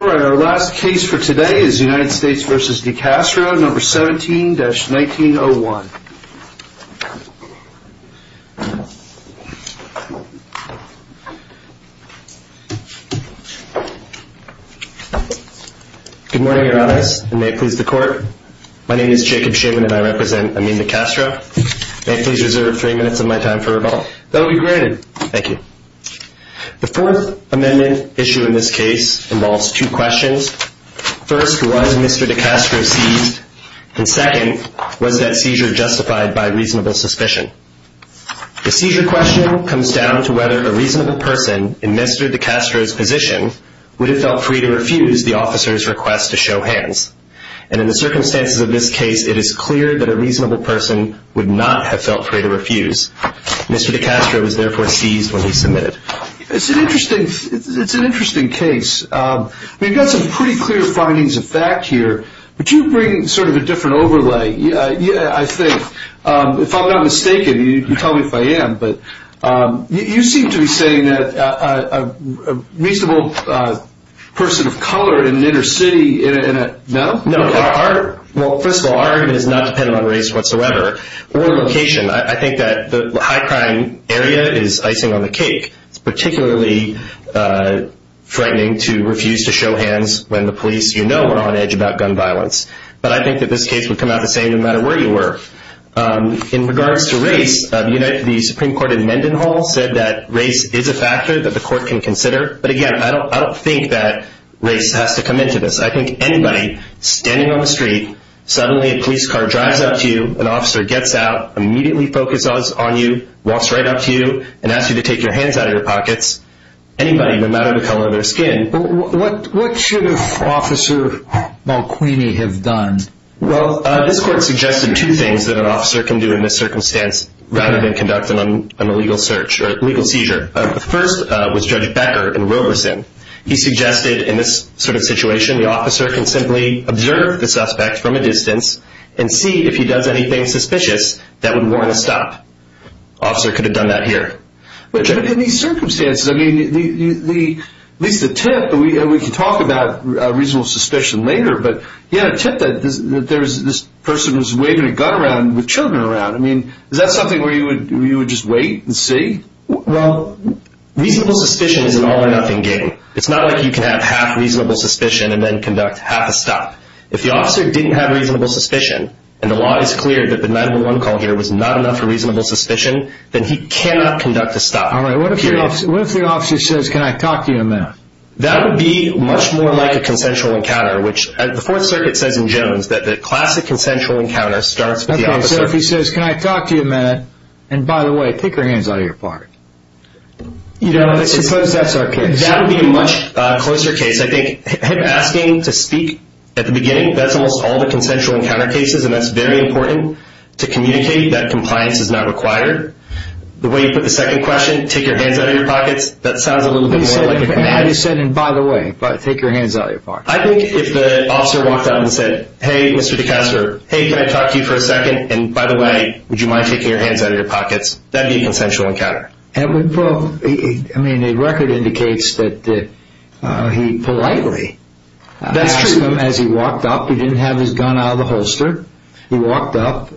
All right, our last case for today is United States v. De Castro, No. 17-1901. Good morning, Your Honors, and may it please the Court. My name is Jacob Shaman, and I represent Amin De Castro. May it please reserve three minutes of my time for rebuttal? That will be granted. Thank you. The Fourth Amendment issue in this case involves two questions. First, was Mr. De Castro seized? And second, was that seizure justified by reasonable suspicion? The seizure question comes down to whether a reasonable person in Mr. De Castro's position would have felt free to refuse the officer's request to show hands. And in the circumstances of this case, it is clear that a reasonable person would not have felt free to refuse. Mr. De Castro was therefore seized when he submitted. It's an interesting case. We've got some pretty clear findings of fact here, but you bring sort of a different overlay, I think. If I'm not mistaken, you can tell me if I am, but you seem to be saying that a reasonable person of color in an inner city in a – no? No. Well, first of all, our argument is not dependent on race whatsoever or location. I think that the high crime area is icing on the cake. It's particularly frightening to refuse to show hands when the police you know are on edge about gun violence. But I think that this case would come out the same no matter where you were. In regards to race, the Supreme Court in Mendenhall said that race is a factor that the court can consider. But again, I don't think that race has to come into this. I think anybody standing on the street, suddenly a police car drives up to you, an officer gets out, immediately focuses on you, walks right up to you and asks you to take your hands out of your pockets. Anybody, no matter the color of their skin. What should Officer Mulqueeny have done? Well, this court suggested two things that an officer can do in this circumstance rather than conduct an illegal search or legal seizure. The first was Judge Becker in Robeson. He suggested in this sort of situation, the officer can simply observe the suspect from a distance and see if he does anything suspicious that would warrant a stop. Officer could have done that here. But in these circumstances, I mean, at least the tip, we can talk about reasonable suspicion later, but he had a tip that this person was waving a gun around with children around. I mean, is that something where you would just wait and see? Well, reasonable suspicion is an all or nothing game. It's not like you can have half reasonable suspicion and then conduct half a stop. If the officer didn't have reasonable suspicion, and the law is clear that the 911 call here was not enough for reasonable suspicion, then he cannot conduct a stop. All right, what if the officer says, can I talk to you a minute? That would be much more like a consensual encounter, which the Fourth Circuit says in Jones that the classic consensual encounter starts with the officer. So if he says, can I talk to you a minute? And by the way, take your hands out of your pocket. You know, let's suppose that's our case. That would be a much closer case. I think him asking to speak at the beginning, that's almost all the consensual encounter cases, and that's very important to communicate that compliance is not required. The way you put the second question, take your hands out of your pockets, that sounds a little bit more like a command. I think if the officer walked up and said, hey, Mr. DeCastro, hey, can I talk to you for a second? And by the way, would you mind taking your hands out of your pockets? That would be a consensual encounter. I mean, the record indicates that he politely asked him as he walked up. He didn't have his gun out of the holster. He walked up.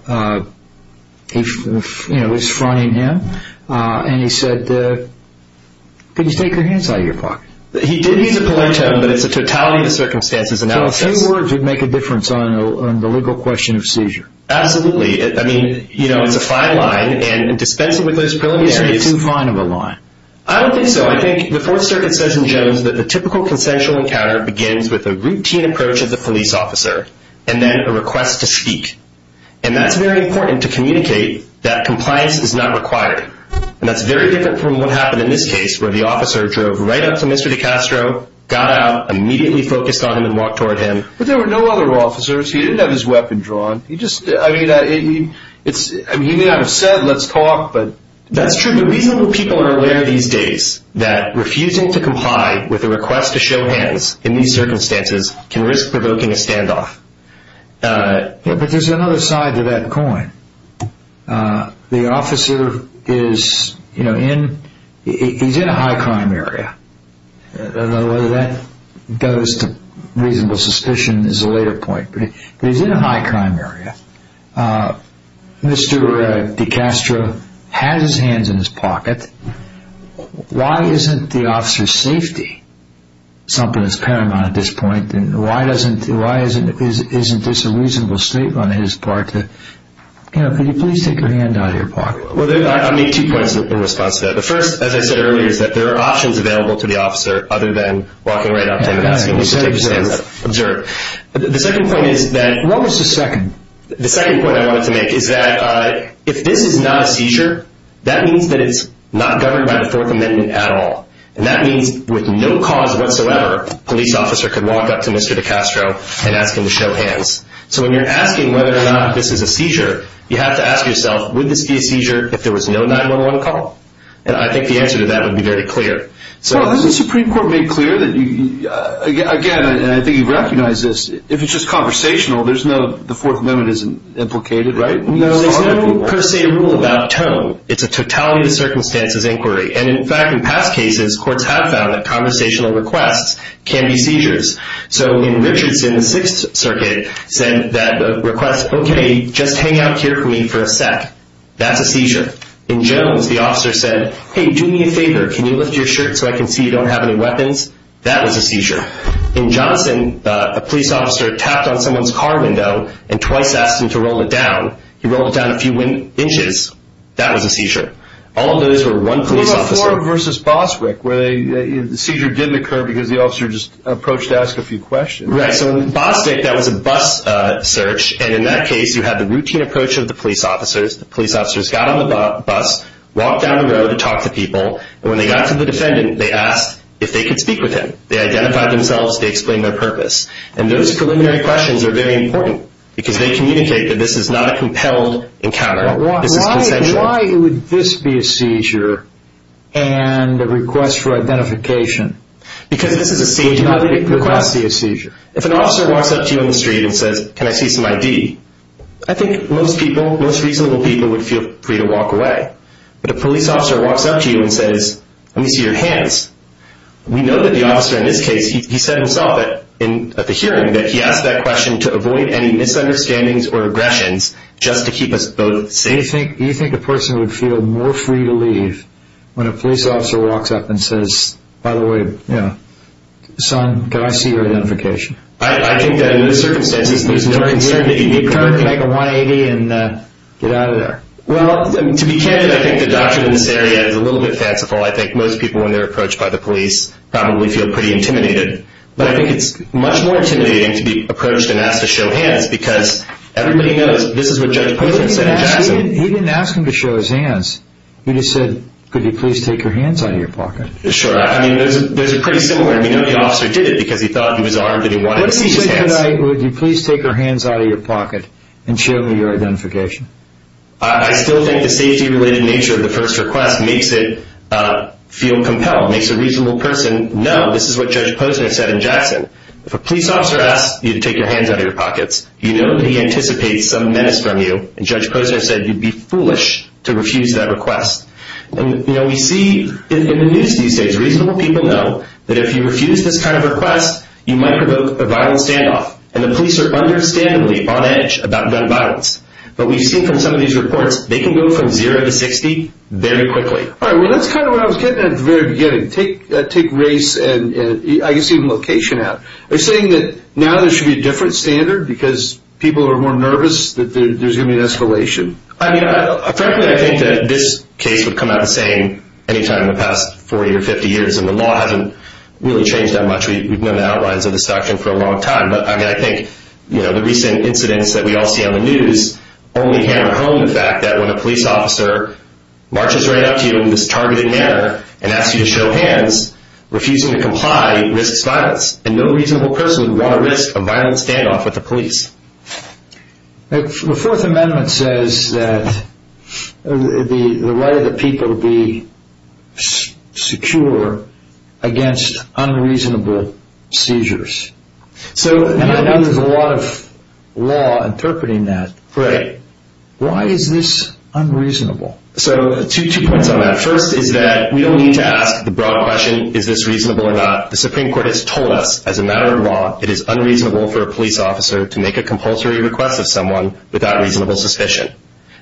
He was fronting him, and he said, could you take your hands out of your pocket? He did use a polite tone, but it's a totality of circumstances analysis. A few words would make a difference on the legal question of seizure. Absolutely. I mean, you know, it's a fine line, and dispensing with those preliminaries. Maybe it's too fine of a line. I don't think so. I think the Fourth Circuit says in Jones that the typical consensual encounter begins with a routine approach of the police officer and then a request to speak, and that's very important to communicate that compliance is not required, and that's very different from what happened in this case where the officer drove right up to Mr. DeCastro, got out, immediately focused on him and walked toward him. But there were no other officers. He didn't have his weapon drawn. He just, I mean, he may not have said let's talk, but... That's true, but reasonable people are aware these days that refusing to comply with a request to show hands in these circumstances can risk provoking a standoff. Yeah, but there's another side to that coin. The officer is, you know, he's in a high-crime area. Whether that goes to reasonable suspicion is a later point, but he's in a high-crime area. Mr. DeCastro has his hands in his pocket. Why isn't the officer's safety something that's paramount at this point, and why isn't this a reasonable statement on his part to, you know, could you please take your hand out of your pocket? Well, I'll make two points in response to that. The first, as I said earlier, is that there are options available to the officer other than walking right up to him and asking him to take his hands up. Got it. Observe. The second point is that... What was the second? The second point I wanted to make is that if this is not a seizure, that means that it's not governed by the Fourth Amendment at all, and that means with no cause whatsoever, a police officer could walk up to Mr. DeCastro and ask him to show hands. So when you're asking whether or not this is a seizure, you have to ask yourself, would this be a seizure if there was no 911 call? And I think the answer to that would be very clear. Well, isn't the Supreme Court made clear that you, again, and I think you recognize this, if it's just conversational, there's no, the Fourth Amendment isn't implicated, right? There's no per se rule about tone. It's a totality of circumstances inquiry. And, in fact, in past cases, courts have found that conversational requests can be seizures. So in Richardson, the Sixth Circuit said that a request, okay, just hang out here for me for a sec, that's a seizure. In Jones, the officer said, hey, do me a favor. Can you lift your shirt so I can see you don't have any weapons? That was a seizure. In Johnson, a police officer tapped on someone's car window and twice asked him to roll it down. He rolled it down a few inches. That was a seizure. All of those were one police officer. But what about Ford v. Boswick, where the seizure didn't occur because the officer just approached to ask a few questions? Right. So in Boswick, that was a bus search, and in that case you had the routine approach of the police officers. The police officers got on the bus, walked down the road, and talked to people. And when they got to the defendant, they asked if they could speak with him. They identified themselves. They explained their purpose. And those preliminary questions are very important because they communicate that this is not a compelled encounter. Why would this be a seizure and a request for identification? Because this is a seizure. Why would it not be a seizure? If an officer walks up to you in the street and says, can I see some ID, I think most reasonable people would feel free to walk away. But if a police officer walks up to you and says, let me see your hands, we know that the officer in this case, he said himself at the hearing that he asked that question to avoid any misunderstandings or aggressions just to keep us both safe. Do you think a person would feel more free to leave when a police officer walks up and says, by the way, son, can I see your identification? I think that in those circumstances, there's no concern to be taken away. You could make a 180 and get out of there. Well, to be candid, I think the doctrine in this area is a little bit fanciful. I think most people, when they're approached by the police, probably feel pretty intimidated. But I think it's much more intimidating to be approached and asked to show hands because everybody knows this is what Judge Posner said in Jackson. He didn't ask him to show his hands. He just said, could you please take your hands out of your pocket? Sure. I mean, those are pretty similar. We know the officer did it because he thought he was armed and he wanted to see his hands. What if he said, could you please take your hands out of your pocket and show me your identification? I still think the safety-related nature of the first request makes it feel compelled, makes a reasonable person know this is what Judge Posner said in Jackson. If a police officer asks you to take your hands out of your pockets, you know that he anticipates some menace from you, and Judge Posner said you'd be foolish to refuse that request. We see in the news these days reasonable people know that if you refuse this kind of request, you might provoke a violent standoff, and the police are understandably on edge about gun violence. But we've seen from some of these reports they can go from zero to 60 very quickly. All right. Well, that's kind of what I was getting at at the very beginning. Take race and, I guess, even location out. Are you saying that now there should be a different standard because people are more nervous that there's going to be an escalation? Frankly, I think that this case would come out the same any time in the past 40 or 50 years, and the law hasn't really changed that much. We've known the outlines of this doctrine for a long time. But I think the recent incidents that we all see on the news only hammer home the fact that when a police officer marches right up to you in this targeted manner and asks you to show hands, refusing to comply risks violence. And no reasonable person would want to risk a violent standoff with the police. The Fourth Amendment says that the right of the people to be secure against unreasonable seizures. I know there's a lot of law interpreting that. Right. Why is this unreasonable? Two points on that. The first is that we don't need to ask the broad question, is this reasonable or not? The Supreme Court has told us, as a matter of law, it is unreasonable for a police officer to make a compulsory request of someone without reasonable suspicion.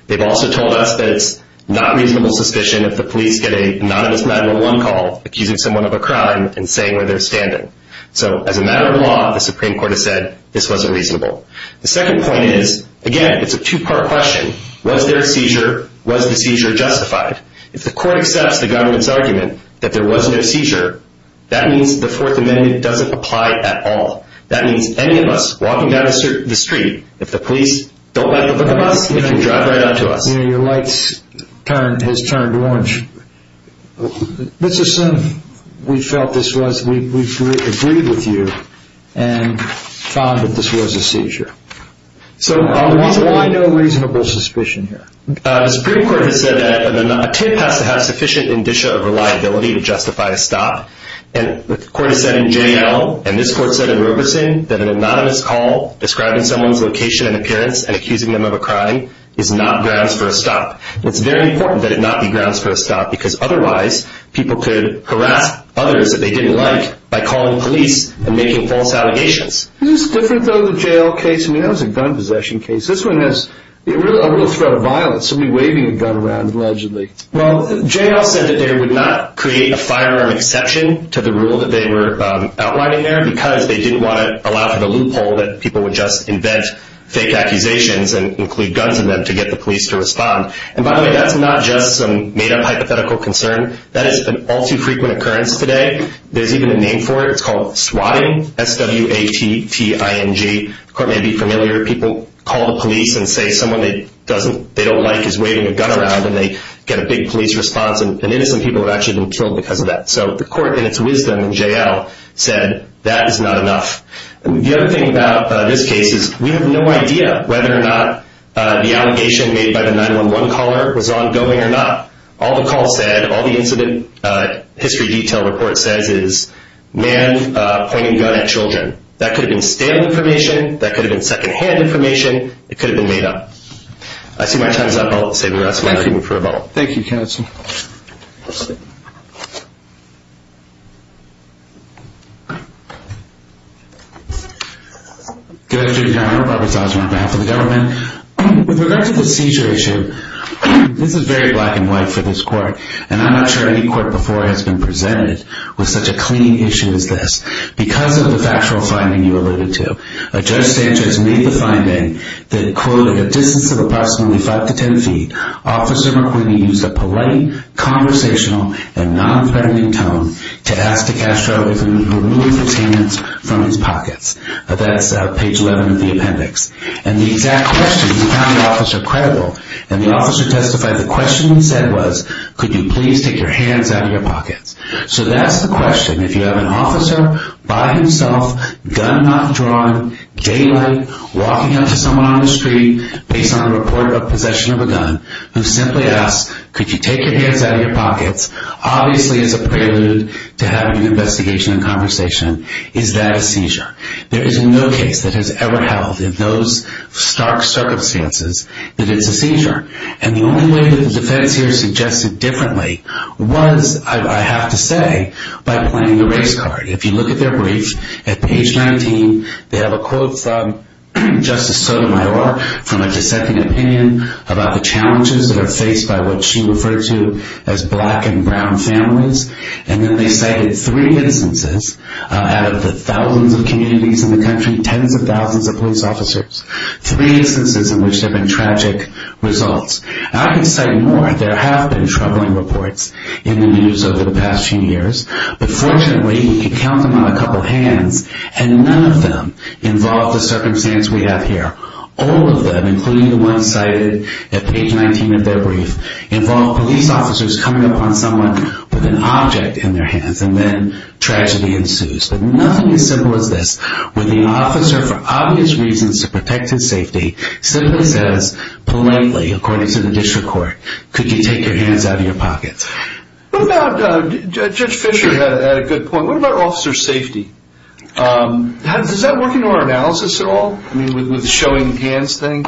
They've also told us that it's not reasonable suspicion if the police get an anonymous 911 call accusing someone of a crime and saying where they're standing. So as a matter of law, the Supreme Court has said this wasn't reasonable. The second point is, again, it's a two-part question. Was there a seizure? Was the seizure justified? If the court accepts the government's argument that there was no seizure, that means the Fourth Amendment doesn't apply at all. That means any of us walking down the street, if the police don't like the look of us, they can drive right up to us. Your light has turned orange. Let's assume we felt this was, we've agreed with you and found that this was a seizure. So why no reasonable suspicion here? The Supreme Court has said that a tip has to have sufficient indicia of reliability to justify a stop. And the court has said in J.L., and this court said in Robeson, that an anonymous call describing someone's location and appearance and accusing them of a crime is not grounds for a stop. It's very important that it not be grounds for a stop, because otherwise people could harass others that they didn't like by calling the police and making false allegations. Is this different from the J.L. case? I mean, that was a gun possession case. This one is a real threat of violence, somebody waving a gun around allegedly. Well, J.L. said that they would not create a firearm exception to the rule that they were outlining there because they didn't want to allow for the loophole that people would just invent fake accusations and include guns in them to get the police to respond. And by the way, that's not just some made-up hypothetical concern. That is an all-too-frequent occurrence today. There's even a name for it. It's called swatting, S-W-A-T-T-I-N-G. The court may be familiar. People call the police and say someone they don't like is waving a gun around, and they get a big police response. And innocent people have actually been killed because of that. So the court, in its wisdom, J.L., said that is not enough. The other thing about this case is we have no idea whether or not the allegation made by the 9-1-1 caller was ongoing or not. All the calls said, all the incident history detail report says is man pointing gun at children. That could have been standard information. That could have been second-hand information. It could have been made up. I see my time is up. I'll save the rest of my time for a vote. Thank you, counsel. Good afternoon, Your Honor. Robert Zausman on behalf of the government. With regard to the seizure issue, this is very black and white for this court, and I'm not sure any court before has been presented with such a clean issue as this. Because of the factual finding you alluded to, Judge Sanchez made the finding that, quote, at a distance of approximately 5 to 10 feet, Officer McQueen used a polite, conversational, and non-threatening tone to ask DeCastro if he would remove his hands from his pockets. That's page 11 of the appendix. And the exact question, he found the officer credible, and the officer testified the question he said was, could you please take your hands out of your pockets? So that's the question. If you have an officer by himself, gun not drawn, daylight, walking up to someone on the street based on a report of possession of a gun, who simply asks, could you take your hands out of your pockets, obviously is a prelude to having an investigation and conversation. Is that a seizure? There is no case that has ever held in those stark circumstances that it's a seizure. And the only way that the defense here suggested differently was, I have to say, by playing the race card. If you look at their brief, at page 19, they have a quote from Justice Sotomayor from a dissenting opinion about the challenges that are faced by what she referred to as black and brown families. And then they cited three instances out of the thousands of communities in the country, tens of thousands of police officers, three instances in which there have been tragic results. I could cite more. There have been troubling reports in the news over the past few years. But fortunately, you can count them on a couple hands, and none of them involve the circumstance we have here. All of them, including the one cited at page 19 of their brief, involve police officers coming upon someone with an object in their hands, and then tragedy ensues. But nothing as simple as this, where the officer, for obvious reasons to protect his safety, simply says politely, according to the district court, could you take your hands out of your pockets? What about Judge Fischer had a good point. What about officer safety? Does that work into our analysis at all, with the showing hands thing?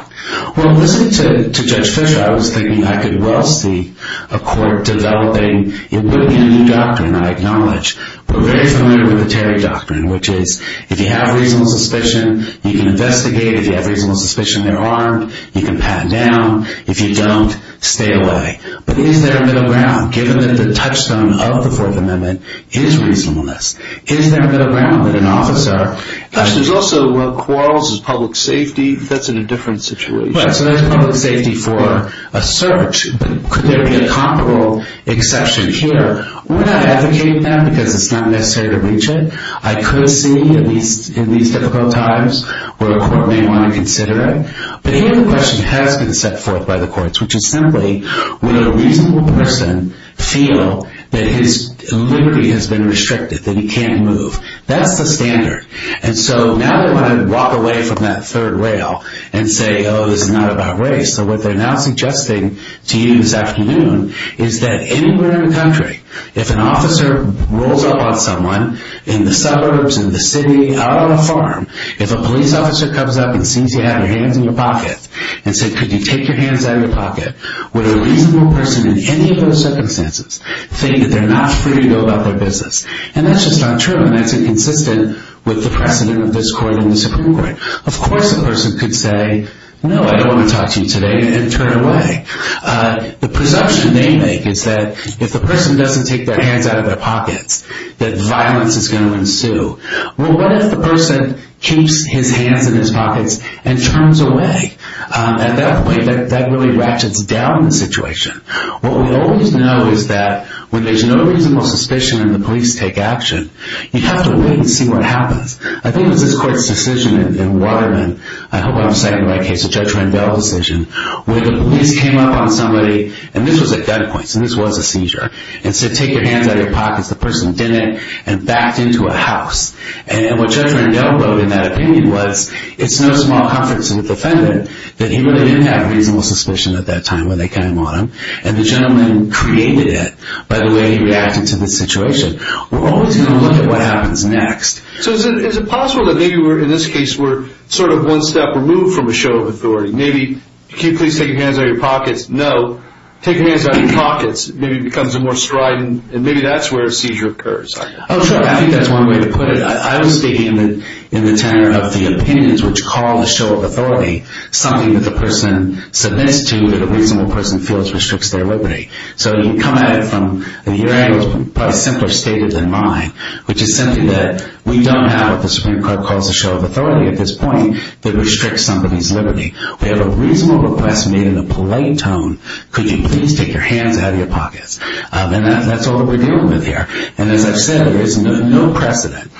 Well, listening to Judge Fischer, I was thinking I could well see a court developing and putting in a new doctrine, I acknowledge. We're very familiar with the Terry Doctrine, which is if you have reasonable suspicion, you can investigate. If you have reasonable suspicion, they're armed, you can pat down. If you don't, stay away. But is there a middle ground, given that the touchstone of the Fourth Amendment is reasonableness? Is there a middle ground that an officer... There's also quarrels as public safety, but that's in a different situation. Right, so there's public safety for a search. Could there be a comparable exception here? We're not advocating that because it's not necessary to reach it. I could see, at least in these difficult times, where a court may want to consider it. But here the question has been set forth by the courts, which is simply would a reasonable person feel that his liberty has been restricted, that he can't move? That's the standard. And so now they want to walk away from that third rail and say, oh, this is not about race. So what they're now suggesting to you this afternoon is that anywhere in the country, if an officer rolls up on someone in the suburbs, in the city, out on a farm, if a police officer comes up and sees you have your hands in your pocket and said, could you take your hands out of your pocket, would a reasonable person in any of those circumstances think that they're not free to go about their business? And that's just not true, and that's inconsistent with the precedent of this court and the Supreme Court. Of course a person could say, no, I don't want to talk to you today, and turn away. The perception they make is that if the person doesn't take their hands out of their pockets, that violence is going to ensue. Well, what if the person keeps his hands in his pockets and turns away? At that point, that really ratchets down the situation. What we always know is that when there's no reasonable suspicion and the police take action, you have to wait and see what happens. I think it was this court's decision in Waterman, I hope I'm citing the right case, the Judge Rendell decision, where the police came up on somebody, and this was at gunpoint, so this was a seizure, and said take your hands out of your pockets, the person didn't, and backed into a house. And what Judge Rendell wrote in that opinion was, it's no small conference with the defendant that he really didn't have reasonable suspicion at that time when they came on him, and the gentleman created it by the way he reacted to the situation. We're always going to look at what happens next. So is it possible that maybe we're, in this case, we're sort of one step removed from a show of authority? Maybe, can you please take your hands out of your pockets? No, take your hands out of your pockets, maybe it becomes a more strident, and maybe that's where a seizure occurs. Oh sure, I think that's one way to put it. I was speaking in the tenor of the opinions which call a show of authority, something that the person submits to, that a reasonable person feels restricts their liberty. So you come at it from, your argument is probably simpler stated than mine, which is simply that we don't have what the Supreme Court calls a show of authority at this point that restricts somebody's liberty. We have a reasonable request made in a polite tone, could you please take your hands out of your pockets? And that's all that we're dealing with here. And as I've said, there is no precedent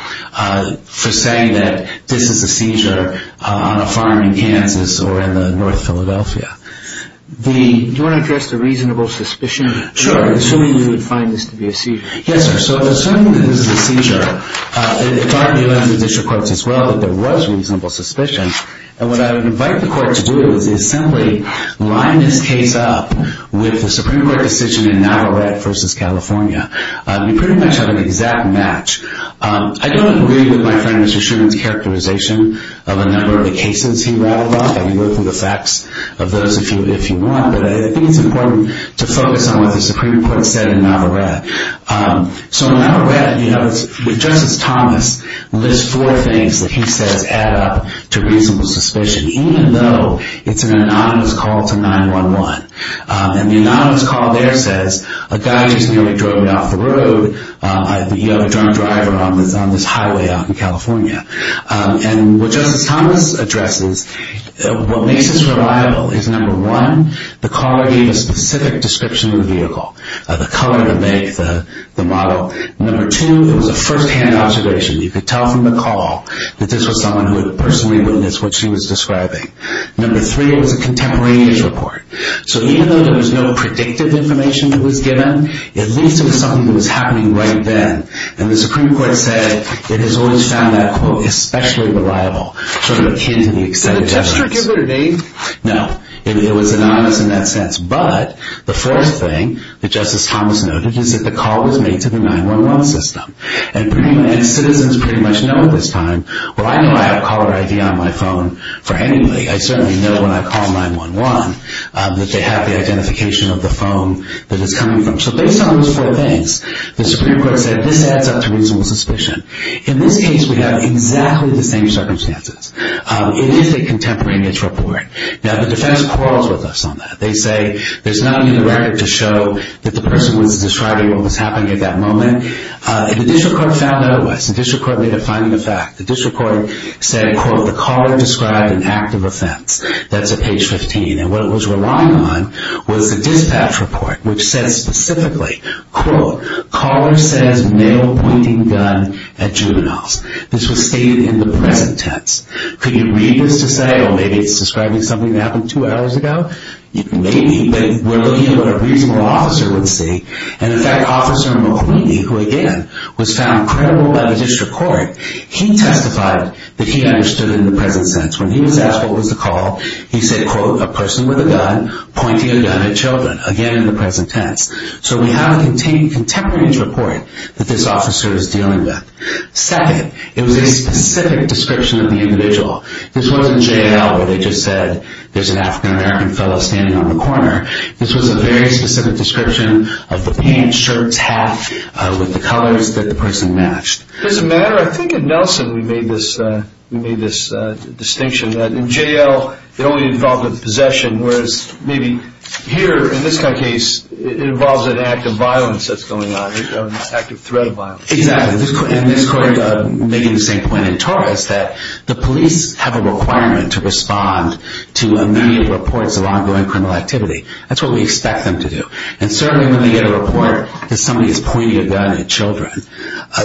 for saying that this is a seizure on a farm in Kansas or in the north Philadelphia. Do you want to address the reasonable suspicion? Sure. Assuming you would find this to be a seizure. Yes sir, so assuming that this is a seizure, it probably lands in the district courts as well, that there was reasonable suspicion. And what I would invite the court to do is simply line this case up with the Supreme Court decision in Navarrette v. California. You pretty much have an exact match. I don't agree with my friend Mr. Sherman's characterization of a number of the cases he rattled off. I can go through the facts of those if you want, but I think it's important to focus on what the Supreme Court said in Navarrette. So in Navarrette, you know, Justice Thomas lists four things that he says add up to reasonable suspicion, even though it's an anonymous call to 911. And the anonymous call there says, a guy just nearly drove it off the road. You have a drunk driver on this highway out in California. And what Justice Thomas addresses, what makes this reliable is number one, the caller gave a specific description of the vehicle, the color of the make, the model. Number two, it was a first-hand observation. You could tell from the call that this was someone who had personally witnessed what she was describing. Number three, it was a contemporary age report. So even though there was no predictive information that was given, at least it was something that was happening right then. And the Supreme Court said it has always found that quote especially reliable, sort of akin to the extent of justice. Did the district give it a name? No. It was anonymous in that sense. But the fourth thing that Justice Thomas noted is that the call was made to the 911 system. And citizens pretty much know at this time, well, I know I have caller ID on my phone for anybody. I certainly know when I call 911 that they have the identification of the phone that it's coming from. So based on those four things, the Supreme Court said this adds up to reasonable suspicion. In this case, we have exactly the same circumstances. It is a contemporary age report. Now, the defense quarrels with us on that. They say there's not any record to show that the person was describing what was happening at that moment. And the district court found that it was. The district court made a finding of fact. The district court said, quote, the caller described an act of offense. That's at page 15. And what it was relying on was a dispatch report which said specifically, quote, caller says nail-pointing gun at juveniles. This was stated in the present tense. Could you read this to say, oh, maybe it's describing something that happened two hours ago? Maybe. But we're looking at what a reasonable officer would see. And in fact, Officer McQueenie, who again was found credible by the district court, he testified that he understood it in the present sense. When he was asked what was the call, he said, quote, a person with a gun pointing a gun at children, again in the present tense. So we have a contemporary age report that this officer is dealing with. Second, it was a specific description of the individual. This wasn't J.L. or they just said there's an African-American fellow standing on the corner. This was a very specific description of the paint, shirts, hat, with the colors that the person matched. As a matter, I think in Nelson we made this distinction that in J.L. it only involved a possession, whereas maybe here in this kind of case, it involves an act of violence that's going on, an act of threat of violence. Exactly. And this court made the same point in Torres that the police have a requirement to respond to immediate reports of ongoing criminal activity. That's what we expect them to do. And certainly when they get a report that somebody is pointing a gun at children.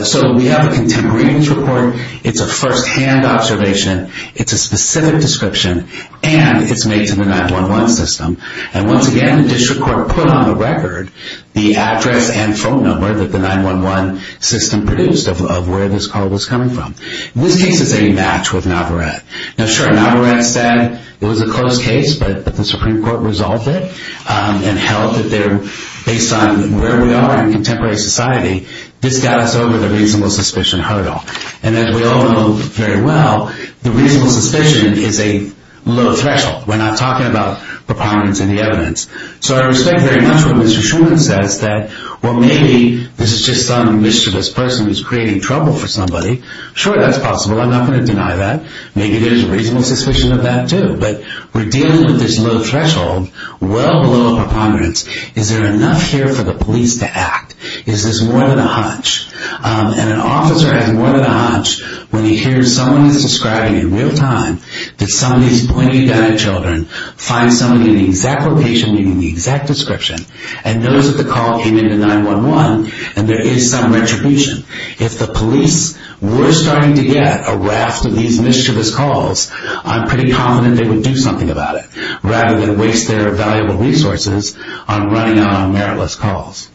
So we have a contemporary age report. It's a firsthand observation. It's a specific description. And it's made to the 911 system. And once again, the district court put on the record the address and phone number that the 911 system produced of where this call was coming from. This case is a match with Navarrette. Now, sure, Navarrette said it was a close case, but the Supreme Court resolved it and held that based on where we are in contemporary society, this got us over the reasonable suspicion hurdle. And as we all know very well, the reasonable suspicion is a low threshold. We're not talking about preponderance in the evidence. So I respect very much what Mr. Schuman says, that well, maybe this is just some mischievous person who's creating trouble for somebody. Sure, that's possible. I'm not going to deny that. Maybe there's a reasonable suspicion of that, too. But we're dealing with this low threshold, well below a preponderance. Is there enough here for the police to act? Is this more than a hunch? And an officer has more than a hunch when he hears someone who's describing in real time that somebody is pointing a gun at children, finds somebody in the exact location, leaving the exact description, and knows that the call came into 911 and there is some retribution. If the police were starting to get a raft of these mischievous calls, I'm pretty confident they would do something about it, rather than waste their valuable resources on running out on meritless calls.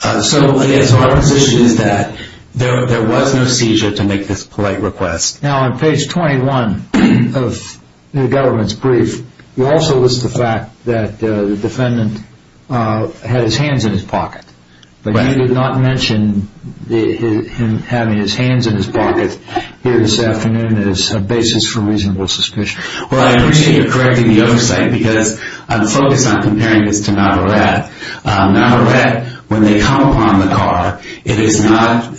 So our position is that there was no seizure to make this polite request. Now on page 21 of the government's brief, you also list the fact that the defendant had his hands in his pocket. But you did not mention him having his hands in his pocket here this afternoon as a basis for reasonable suspicion. Well, I appreciate you correcting the oversight because I'm focused on comparing this to Navarrete. Navarrete, when they come upon the car, it is not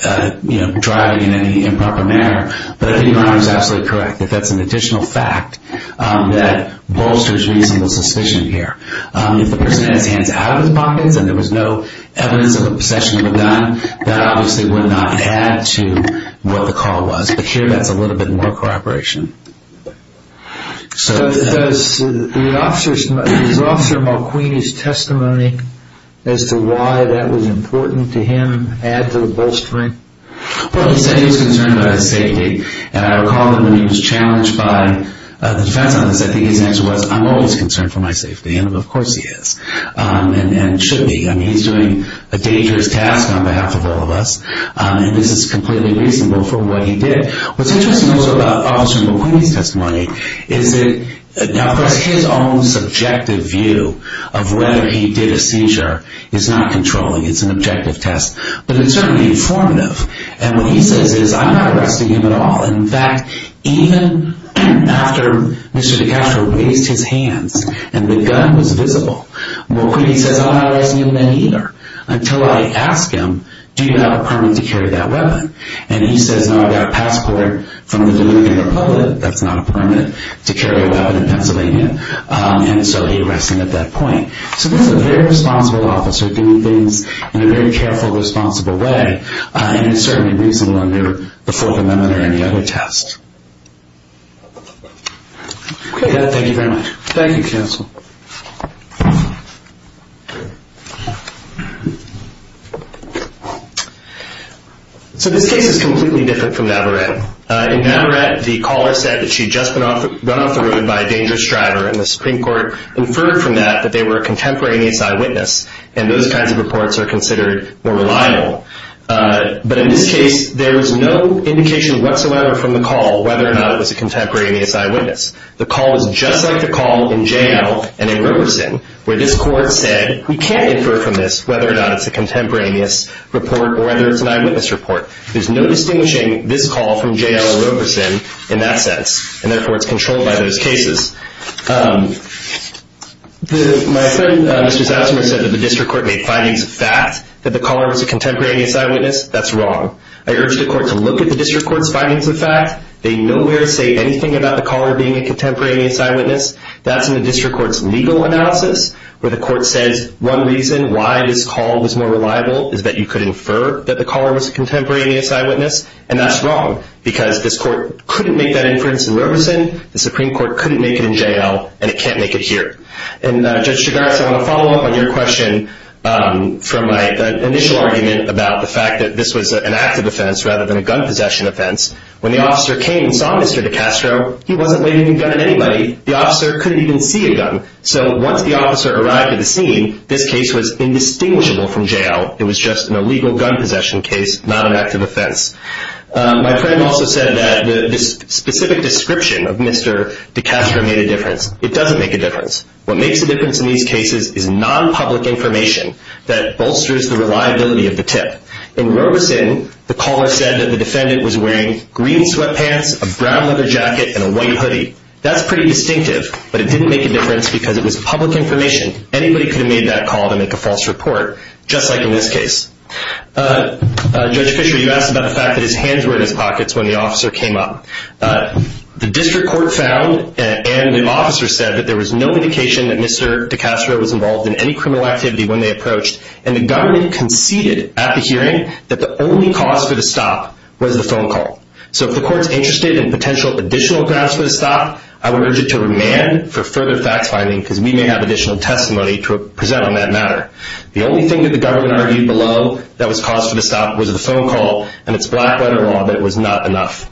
driving in any improper manner. But I think your honor is absolutely correct. That's an additional fact that bolsters reasonable suspicion here. If the person had his hands out of his pockets and there was no evidence of a possession of a gun, that obviously would not add to what the call was. But here, that's a little bit more corroboration. Does Officer Marquini's testimony as to why that was important to him add to the bolstering? Well, he said he was concerned about his safety. And I recall that when he was challenged by the defense on this, I think his answer was, I'm always concerned for my safety. And of course he is. And should be. I mean, he's doing a dangerous task on behalf of all of us. And this is completely reasonable for what he did. What's interesting also about Officer Marquini's testimony is that his own subjective view of whether he did a seizure is not controlling. It's an objective test. But it's certainly informative. And what he says is, I'm not arresting him at all. In fact, even after Mr. DiCastro raised his hands and the gun was visible, Marquini says, I'm not arresting him then either until I ask him, do you have a permit to carry that weapon? And he says, no, I've got a passport from the Dominican Republic. That's not a permit to carry a weapon in Pennsylvania. And so he arrested him at that point. So this is a very responsible officer doing things in a very careful, responsible way. And it's certainly reasonable under the Fourth Amendment or any other test. Thank you very much. Thank you, counsel. So this case is completely different from Navarette. In Navarette, the caller said that she had just been run off the road by a dangerous driver. And the Supreme Court inferred from that that they were a contemporary EASI witness. And those kinds of reports are considered more reliable. But in this case, there was no indication whatsoever from the call whether or not it was a contemporary EASI witness. The call was just like the call in J.L. and in Roberson where this court said, we can't infer from this whether or not it's a contemporary EASI report or whether it's an eyewitness report. There's no distinguishing this call from J.L. and Roberson in that sense. And therefore, it's controlled by those cases. My friend, Mr. Zassmer, said that the district court made findings of fact that the caller was a contemporary EASI witness. That's wrong. I urge the court to look at the district court's findings of fact. They nowhere say anything about the caller being a contemporary EASI witness. That's in the district court's legal analysis where the court says, one reason why this call was more reliable is that you could infer that the caller was a contemporary EASI witness. And that's wrong because this court couldn't make that inference in Roberson, the Supreme Court couldn't make it in J.L., and it can't make it here. And, Judge Chigares, I want to follow up on your question from my initial argument about the fact that this was an active offense rather than a gun possession offense. When the officer came and saw Mr. DiCastro, he wasn't waving a gun at anybody. The officer couldn't even see a gun. So once the officer arrived at the scene, this case was indistinguishable from J.L. It was just an illegal gun possession case, not an active offense. My friend also said that this specific description of Mr. DiCastro made a difference. It doesn't make a difference. What makes a difference in these cases is nonpublic information that bolsters the reliability of the tip. In Roberson, the caller said that the defendant was wearing green sweatpants, a brown leather jacket, and a white hoodie. That's pretty distinctive, but it didn't make a difference because it was public information. Anybody could have made that call to make a false report, just like in this case. Judge Fisher, you asked about the fact that his hands were in his pockets when the officer came up. The district court found and the officer said that there was no indication that Mr. DiCastro was involved in any criminal activity when they approached, and the government conceded at the hearing that the only cause for the stop was the phone call. So if the court's interested in potential additional grounds for the stop, I would urge it to remand for further fact-finding because we may have additional testimony to present on that matter. The only thing that the government argued below that was cause for the stop was the phone call, and it's black-letter law that it was not enough.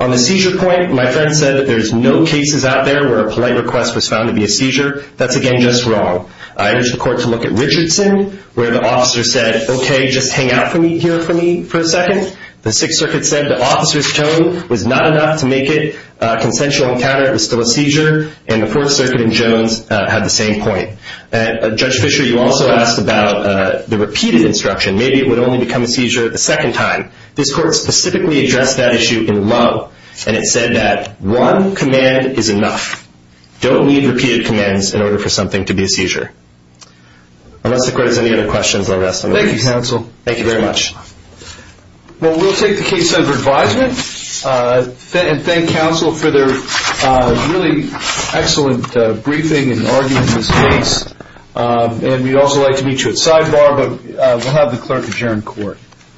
On the seizure point, my friend said that there's no cases out there where a polite request was found to be a seizure. That's, again, just wrong. I urge the court to look at Richardson, where the officer said, okay, just hang out here for me for a second. The Sixth Circuit said the officer's tone was not enough to make it a consensual encounter. It was still a seizure, and the Fourth Circuit and Jones had the same point. Judge Fisher, you also asked about the repeated instruction. Maybe it would only become a seizure a second time. This court specifically addressed that issue in Love, and it said that one command is enough. Don't need repeated commands in order for something to be a seizure. Unless the court has any other questions, I'll rest. Thank you, counsel. Thank you very much. Well, we'll take the case under advisement and thank counsel for their really excellent briefing and argument in this case. We'd also like to meet you at sidebar, but we'll have the clerk adjourn court.